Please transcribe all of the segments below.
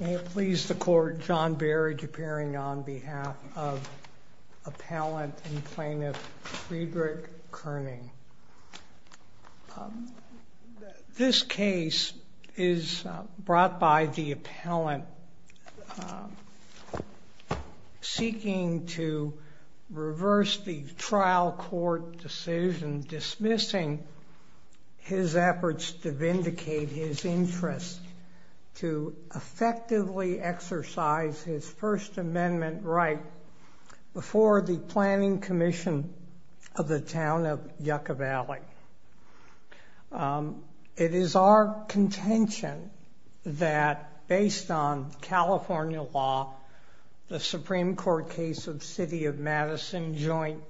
May it please the Court, John Berridge appearing on behalf of Appellant and Plaintiff Friedrich Koenig. This case is brought by the Appellant seeking to reverse the trial court decision dismissing his efforts to vindicate his interest to effectively exercise his First Amendment right before the Planning Commission of the Town of Yucca Valley. It is our contention that based on California law the Supreme Court case of City of Madison Joint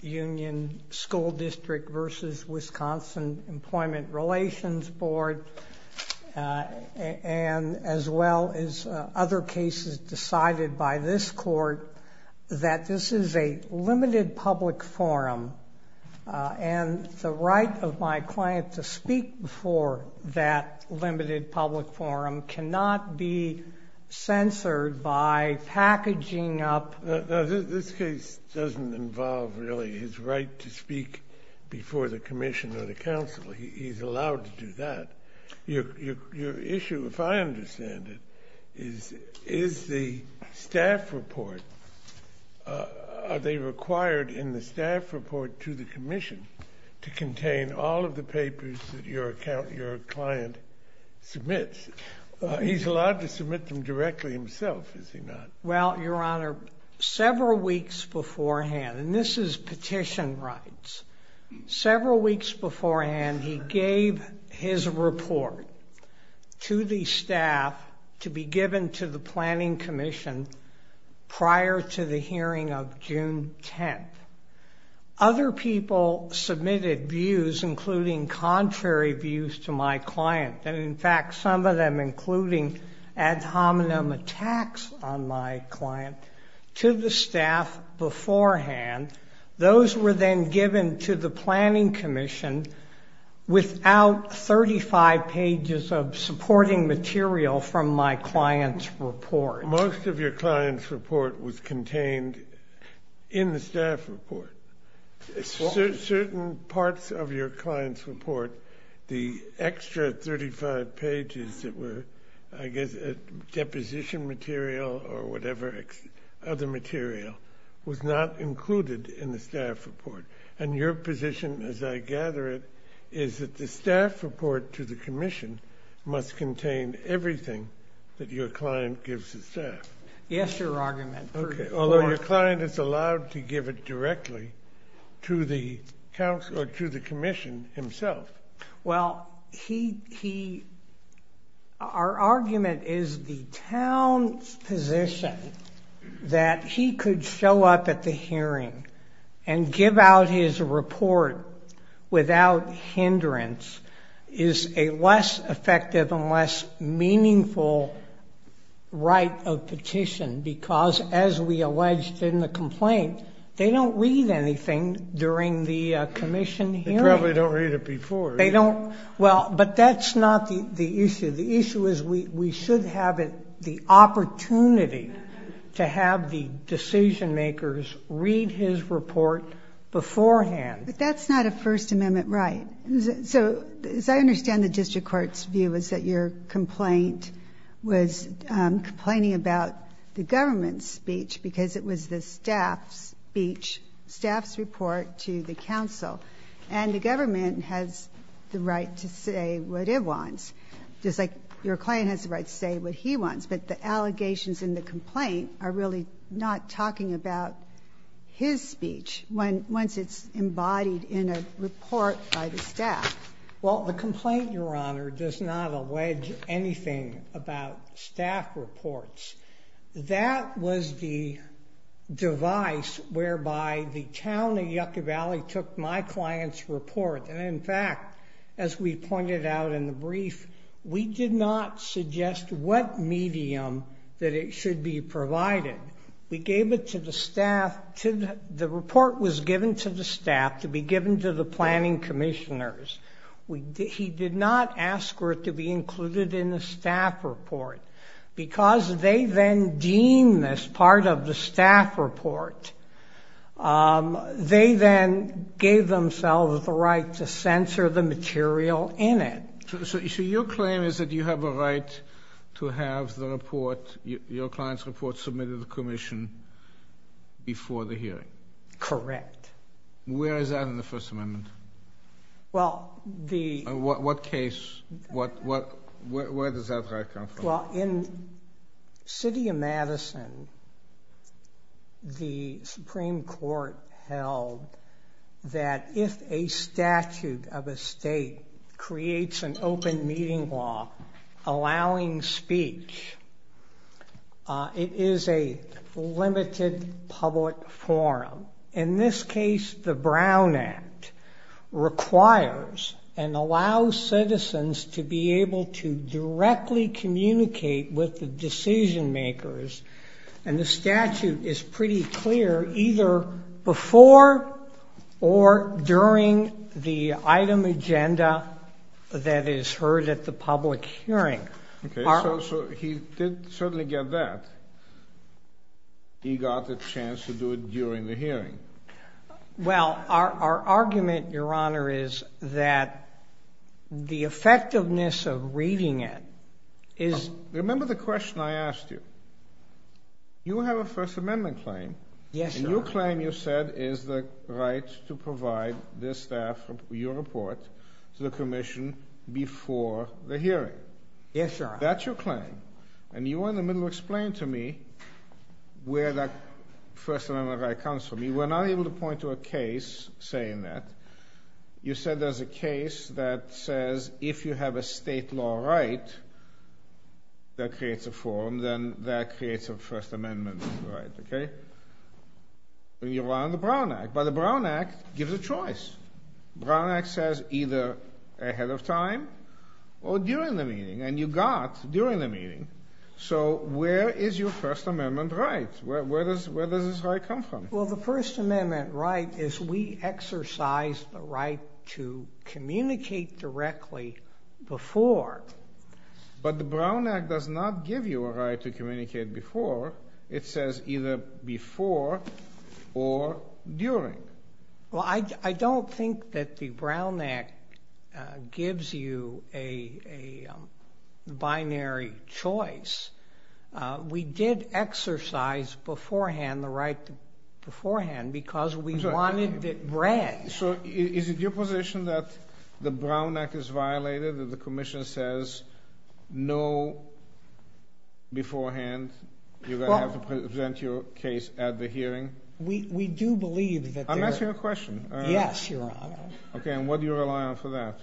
Union School District v. Wisconsin Employment Relations Board and as well as other cases decided by this Court that this is a limited public forum and the right of my client to speak before that limited public forum cannot be censored by packaging up This case doesn't involve really his right to speak before the Commission or the Council. He's allowed to do that. Your issue, if I understand it, is the staff report. Are they required in the staff report to the Commission to contain all of the papers that your client submits? He's allowed to submit them directly himself, is he not? Well, Your Honor, several weeks beforehand, and this is petition rights, several weeks beforehand he gave his report to the staff to be given to the Planning Commission prior to the hearing of June 10th. Other people submitted views, including contrary views to my client, and in fact some of them, including ad hominem attacks on my client, to the staff beforehand. Those were then given to the Planning Commission without 35 pages of supporting material from my client's report. Most of your client's report was contained in the staff report. Certain parts of your client's report, the extra 35 pages that were, I guess, deposition material or whatever other material, was not included in the staff report, and your position, as I gather it, is that the staff report to the Commission must contain everything that your client gives the staff. Yes, Your Argument. Although your client is allowed to give it directly to the Commission himself. Well, our argument is the town's position that he could show up at the hearing and give out his report without hindrance is a less effective and less meaningful right of petition because, as we alleged in the complaint, they don't read anything during the Commission hearing. They probably don't read it before. They don't. Well, but that's not the issue. The issue is we should have the opportunity to have the decision-makers read his report beforehand. But that's not a First Amendment right. So as I understand the district court's view is that your complaint was complaining about the government's speech because it was the staff's speech, staff's report to the council, and the government has the right to say what it wants, just like your client has the right to say what he wants. But the allegations in the complaint are really not talking about his speech once it's embodied in a report by the staff. Well, the complaint, Your Honor, does not allege anything about staff reports. That was the device whereby the town of Yucca Valley took my client's report, and in fact, as we pointed out in the brief, we did not suggest what medium that it should be provided. We gave it to the staff. The report was given to the staff to be given to the planning commissioners. He did not ask for it to be included in the staff report because they then deem this part of the staff report. They then gave themselves the right to censor the material in it. So your claim is that you have a right to have the report, your client's report, submitted to the commission before the hearing. Correct. Where is that in the First Amendment? Well, the— What case? Where does that right come from? Well, in the city of Madison, the Supreme Court held that if a statute of a state creates an open meeting law allowing speech, it is a limited public forum. In this case, the Brown Act requires and allows citizens to be able to directly communicate with the decision makers, and the statute is pretty clear, either before or during the item agenda that is heard at the public hearing. Okay, so he did certainly get that. He got the chance to do it during the hearing. Well, our argument, Your Honor, is that the effectiveness of reading it is— Remember the question I asked you. You have a First Amendment claim. Yes, Your Honor. And your claim, you said, is the right to provide this staff, your report, to the commission before the hearing. Yes, Your Honor. That's your claim. And you were in the middle of explaining to me where that First Amendment right comes from. You were not able to point to a case saying that. You said there's a case that says if you have a state law right that creates a forum, then that creates a First Amendment right, okay? You rely on the Brown Act, but the Brown Act gives a choice. Brown Act says either ahead of time or during the meeting, and you got during the meeting. So where is your First Amendment right? Where does this right come from? Well, the First Amendment right is we exercise the right to communicate directly before. But the Brown Act does not give you a right to communicate before. It says either before or during. Well, I don't think that the Brown Act gives you a binary choice. We did exercise beforehand the right beforehand because we wanted it read. So is it your position that the Brown Act is violated, that the commission says no beforehand? You're going to have to present your case at the hearing? We do believe that there are. I'm asking a question. Yes, Your Honor. Okay, and what do you rely on for that?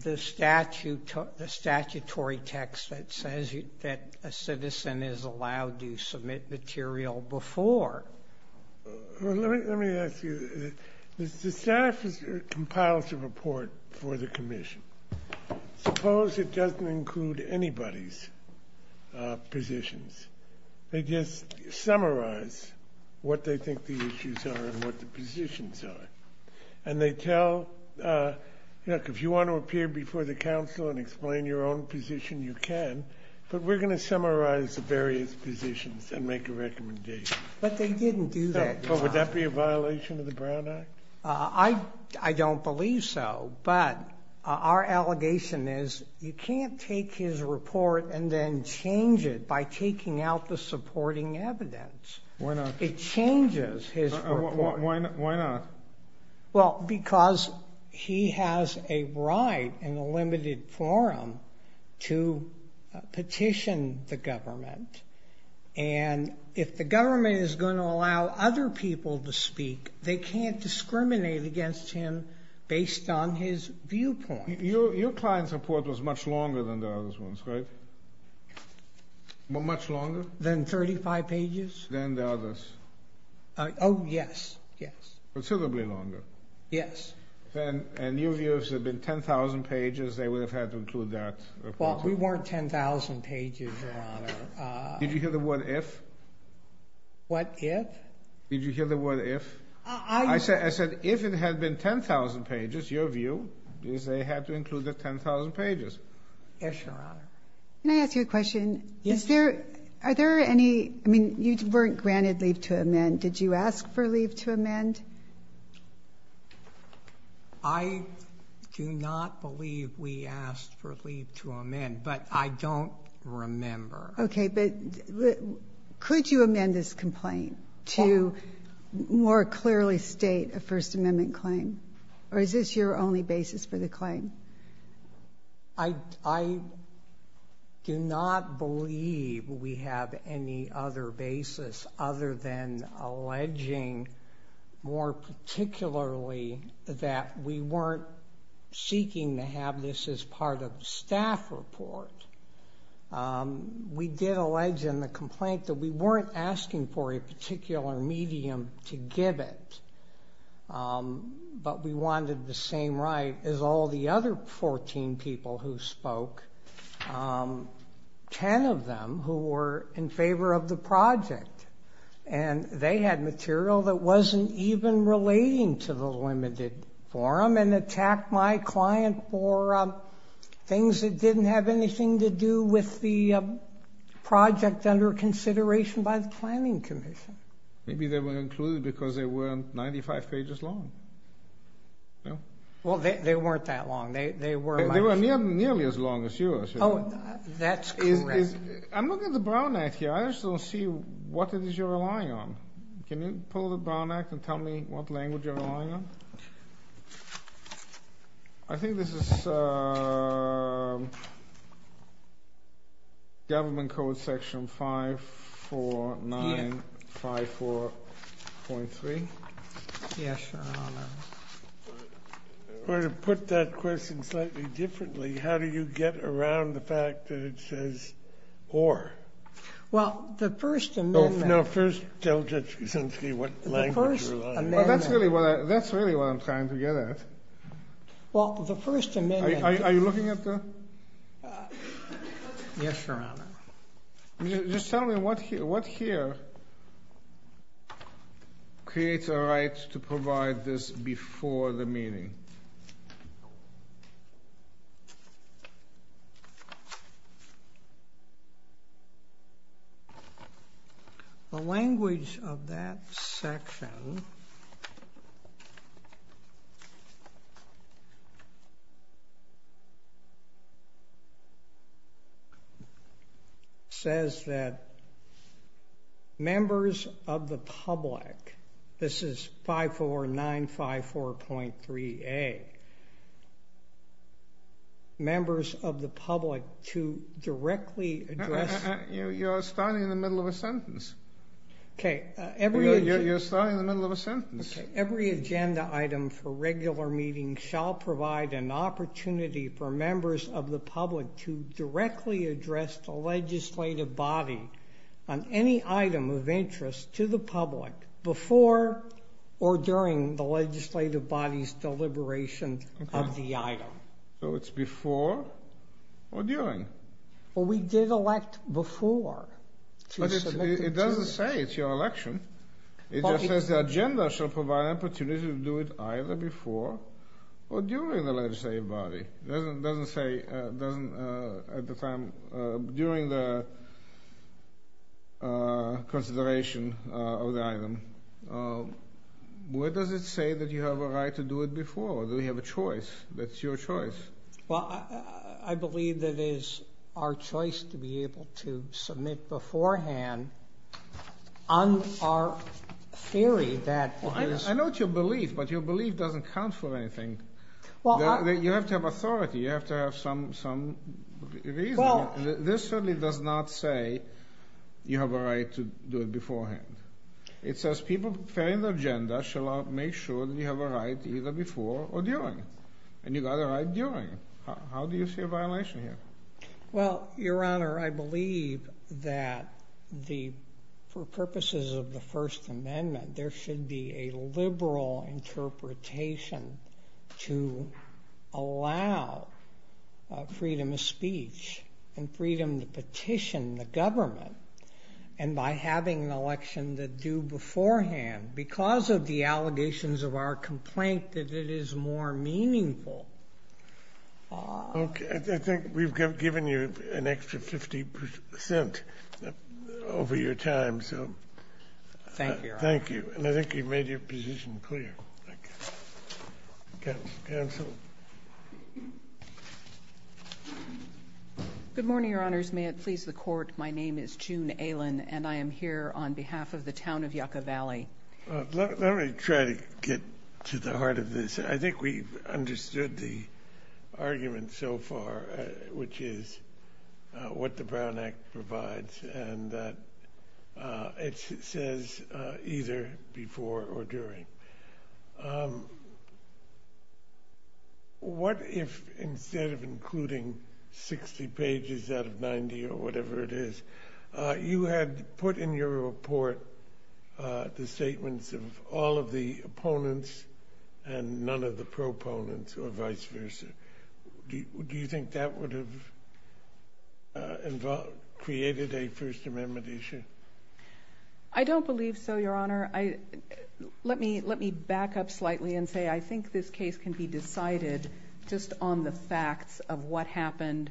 The statutory text that says that a citizen is allowed to submit material before. Well, let me ask you. The statute compiles a report for the commission. Suppose it doesn't include anybody's positions. They just summarize what they think the issues are and what the positions are. And they tell, look, if you want to appear before the council and explain your own position, you can. But we're going to summarize the various positions and make a recommendation. But they didn't do that. Would that be a violation of the Brown Act? I don't believe so. But our allegation is you can't take his report and then change it by taking out the supporting evidence. Why not? It changes his report. Why not? Well, because he has a right in the limited forum to petition the government. And if the government is going to allow other people to speak, they can't discriminate against him based on his viewpoint. Your client's report was much longer than the others, right? Much longer? Than 35 pages? Than the others. Oh, yes. Yes. Considerably longer. Yes. And your views have been 10,000 pages. They would have had to include that. Well, we weren't 10,000 pages, Your Honor. Did you hear the word if? What if? Did you hear the word if? I said if it had been 10,000 pages, your view, is they had to include the 10,000 pages. Yes, Your Honor. Can I ask you a question? Yes. Are there any, I mean, you weren't granted leave to amend. Did you ask for leave to amend? I do not believe we asked for leave to amend, but I don't remember. Okay. But could you amend this complaint to more clearly state a First Amendment claim? Or is this your only basis for the claim? I do not believe we have any other basis other than alleging, more particularly, that we weren't seeking to have this as part of the staff report. We did allege in the complaint that we weren't asking for a particular medium to give it, but we wanted the same right as all the other 14 people who spoke, 10 of them who were in favor of the project. And they had material that wasn't even relating to the limited forum and attacked my client for things that didn't have anything to do with the project under consideration by the Planning Commission. Maybe they were included because they weren't 95 pages long. Well, they weren't that long. They were nearly as long as yours. Oh, that's correct. I'm looking at the Brown Act here. I just don't see what it is you're relying on. Can you pull the Brown Act and tell me what language you're relying on? I think this is Government Code Section 54954.3. Yes, Your Honor. Or to put that question slightly differently, how do you get around the fact that it says or? Well, the First Amendment. No, first tell Judge Kuczynski what language you're relying on. That's really what I'm trying to get at. Well, the First Amendment. Are you looking at the? Yes, Your Honor. Just tell me what here creates a right to provide this before the meeting. The language of that section says that members of the public, this is 54954.3a, members of the public to directly address. You're starting in the middle of a sentence. Okay. You're starting in the middle of a sentence. Every agenda item for regular meetings shall provide an opportunity for members of the public to directly address the legislative body on any item of interest to the public before or during the legislative body's deliberation of the item. So it's before or during? Well, we did elect before. But it doesn't say it's your election. It just says the agenda shall provide an opportunity to do it either before or during the legislative body. It doesn't say at the time, during the consideration of the item. Where does it say that you have a right to do it before? Do we have a choice? That's your choice. Well, I believe that it is our choice to be able to submit beforehand on our theory that is. I know it's your belief, but your belief doesn't count for anything. You have to have authority. You have to have some reason. This certainly does not say you have a right to do it beforehand. It says people preparing the agenda shall make sure that you have a right either before or during. And you got a right during. How do you see a violation here? Well, Your Honor, I believe that for purposes of the First Amendment, there should be a liberal interpretation to allow freedom of speech and freedom to petition the government. And by having an election that's due beforehand, because of the allegations of our complaint that it is more meaningful. I think we've given you an extra 50% over your time. Thank you, Your Honor. Thank you. And I think you've made your position clear. Counsel? Good morning, Your Honors. May it please the Court, my name is June Aylin, and I am here on behalf of the town of Yucca Valley. Let me try to get to the heart of this. I think we've understood the argument so far, which is what the Brown Act provides and that it says either before or during. What if instead of including 60 pages out of 90 or whatever it is, you had put in your report the statements of all of the opponents and none of the proponents or vice versa? Do you think that would have created a First Amendment issue? I don't believe so, Your Honor. Let me back up slightly and say I think this case can be decided just on the facts of what happened,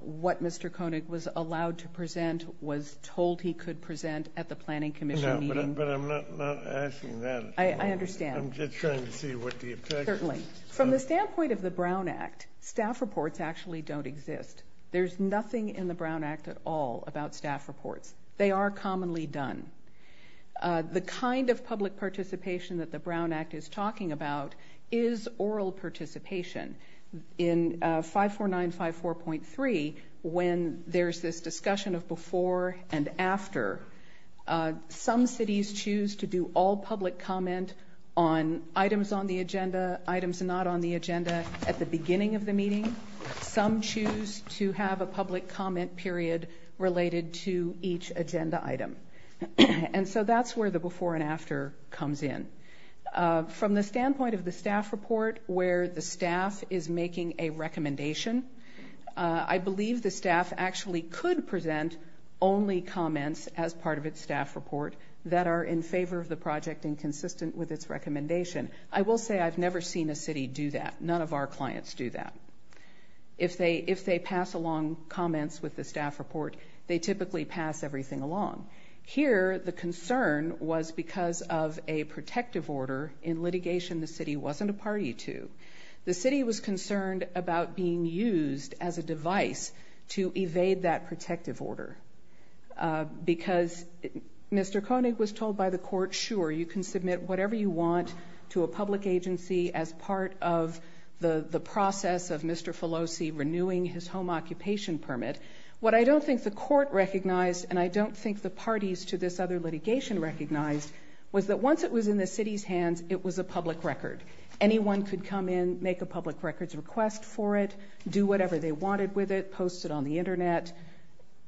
what Mr. Koenig was allowed to present, was told he could present at the Planning Commission meeting. No, but I'm not asking that. I understand. I'm just trying to see what the effect is. Certainly. From the standpoint of the Brown Act, staff reports actually don't exist. There's nothing in the Brown Act at all about staff reports. They are commonly done. The kind of public participation that the Brown Act is talking about is oral participation. In 54954.3, when there's this discussion of before and after, some cities choose to do all public comment on items on the agenda, items not on the agenda at the beginning of the meeting. Some choose to have a public comment period related to each agenda item. And so that's where the before and after comes in. From the standpoint of the staff report, where the staff is making a recommendation, I believe the staff actually could present only comments as part of its staff report that are in favor of the project and consistent with its recommendation. I will say I've never seen a city do that. None of our clients do that. If they pass along comments with the staff report, they typically pass everything along. Here, the concern was because of a protective order in litigation the city wasn't a party to. The city was concerned about being used as a device to evade that protective order. Because Mr. Koenig was told by the court, sure, you can submit whatever you want to a public agency as part of the process of Mr. Filosi renewing his home occupation permit. What I don't think the court recognized and I don't think the parties to this other litigation recognized was that once it was in the city's hands, it was a public record. Anyone could come in, make a public records request for it, do whatever they wanted with it, post it on the Internet,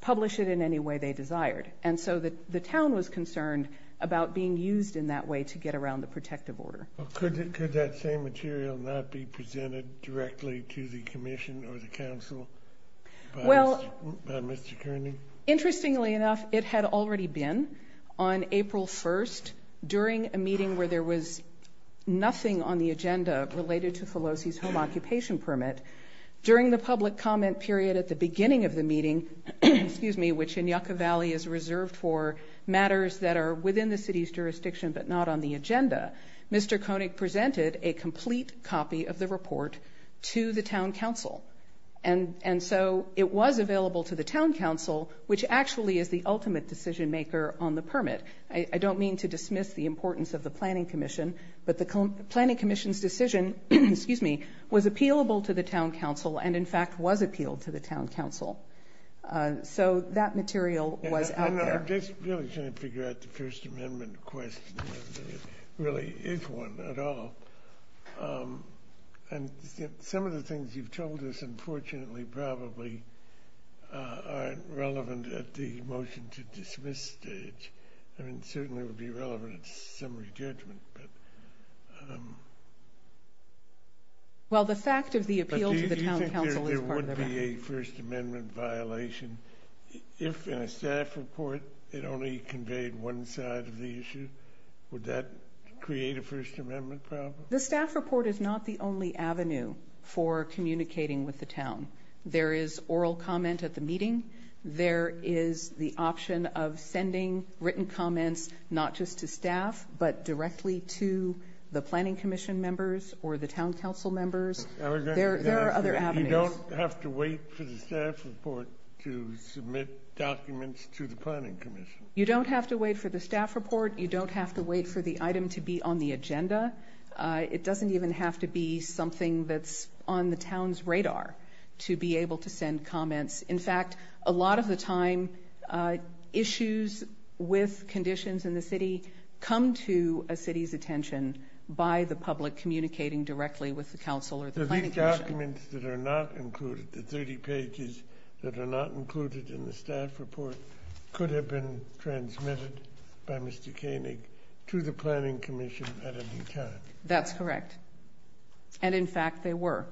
publish it in any way they desired. And so the town was concerned about being used in that way to get around the protective order. Could that same material not be presented directly to the commission or the council by Mr. Koenig? Interestingly enough, it had already been on April 1st during a meeting where there was nothing on the agenda related to Filosi's home occupation permit. During the public comment period at the beginning of the meeting, which in Yucca Valley is reserved for matters that are within the city's jurisdiction but not on the agenda, Mr. Koenig presented a complete copy of the report to the town council. And so it was available to the town council, which actually is the ultimate decision maker on the permit. I don't mean to dismiss the importance of the planning commission, but the planning commission's decision was appealable to the town council and, in fact, was appealed to the town council. So that material was out there. I'm just really trying to figure out the First Amendment question. It really is one at all. And some of the things you've told us, unfortunately, probably aren't relevant at the motion-to-dismiss stage. I mean, certainly it would be relevant at summary judgment. Well, the fact of the appeal to the town council is part of that. But do you think there would be a First Amendment violation if, in a staff report, it only conveyed one side of the issue? Would that create a First Amendment problem? The staff report is not the only avenue for communicating with the town. There is oral comment at the meeting. There is the option of sending written comments not just to staff but directly to the planning commission members or the town council members. There are other avenues. You don't have to wait for the staff report to submit documents to the planning commission? You don't have to wait for the staff report. You don't have to wait for the item to be on the agenda. It doesn't even have to be something that's on the town's radar to be able to send comments. In fact, a lot of the time, issues with conditions in the city come to a city's attention by the public communicating directly with the council or the planning commission. So these documents that are not included, the 30 pages that are not included in the staff report, could have been transmitted by Mr. Koenig to the planning commission at any time. That's correct. And in fact, they were,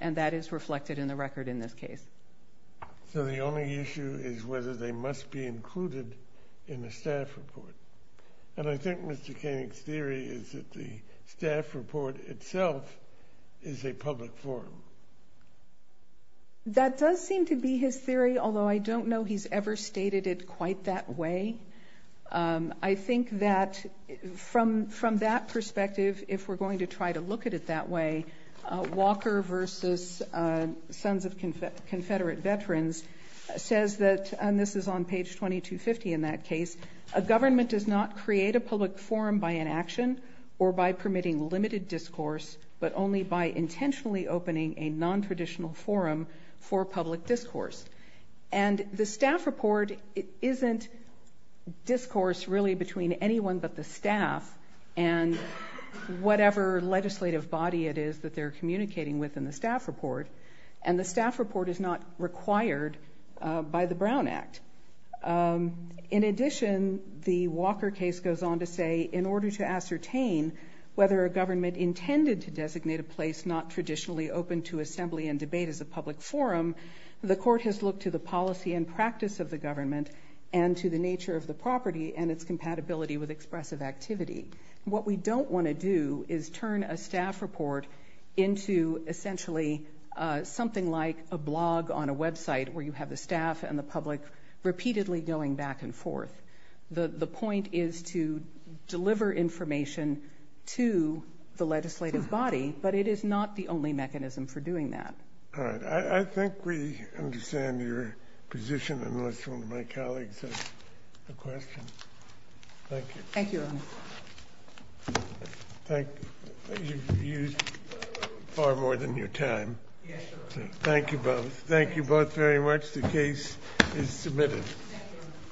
and that is reflected in the record in this case. So the only issue is whether they must be included in the staff report. And I think Mr. Koenig's theory is that the staff report itself is a public forum. That does seem to be his theory, although I don't know he's ever stated it quite that way. I think that from that perspective, if we're going to try to look at it that way, Walker versus Sons of Confederate Veterans says that, and this is on page 2250 in that case, a government does not create a public forum by inaction or by permitting limited discourse, but only by intentionally opening a nontraditional forum for public discourse. And the staff report isn't discourse really between anyone but the staff and whatever legislative body it is that they're communicating with in the staff report, and the staff report is not required by the Brown Act. In addition, the Walker case goes on to say, in order to ascertain whether a government intended to designate a place that is not traditionally open to assembly and debate as a public forum, the court has looked to the policy and practice of the government and to the nature of the property and its compatibility with expressive activity. What we don't want to do is turn a staff report into essentially something like a blog on a website where you have the staff and the public repeatedly going back and forth. The point is to deliver information to the legislative body, but it is not the only mechanism for doing that. All right. I think we understand your position, unless one of my colleagues has a question. Thank you. Thank you, Your Honor. Thank you. You've used far more than your time. Yes, sir. Thank you both. Thank you both very much. The case is submitted.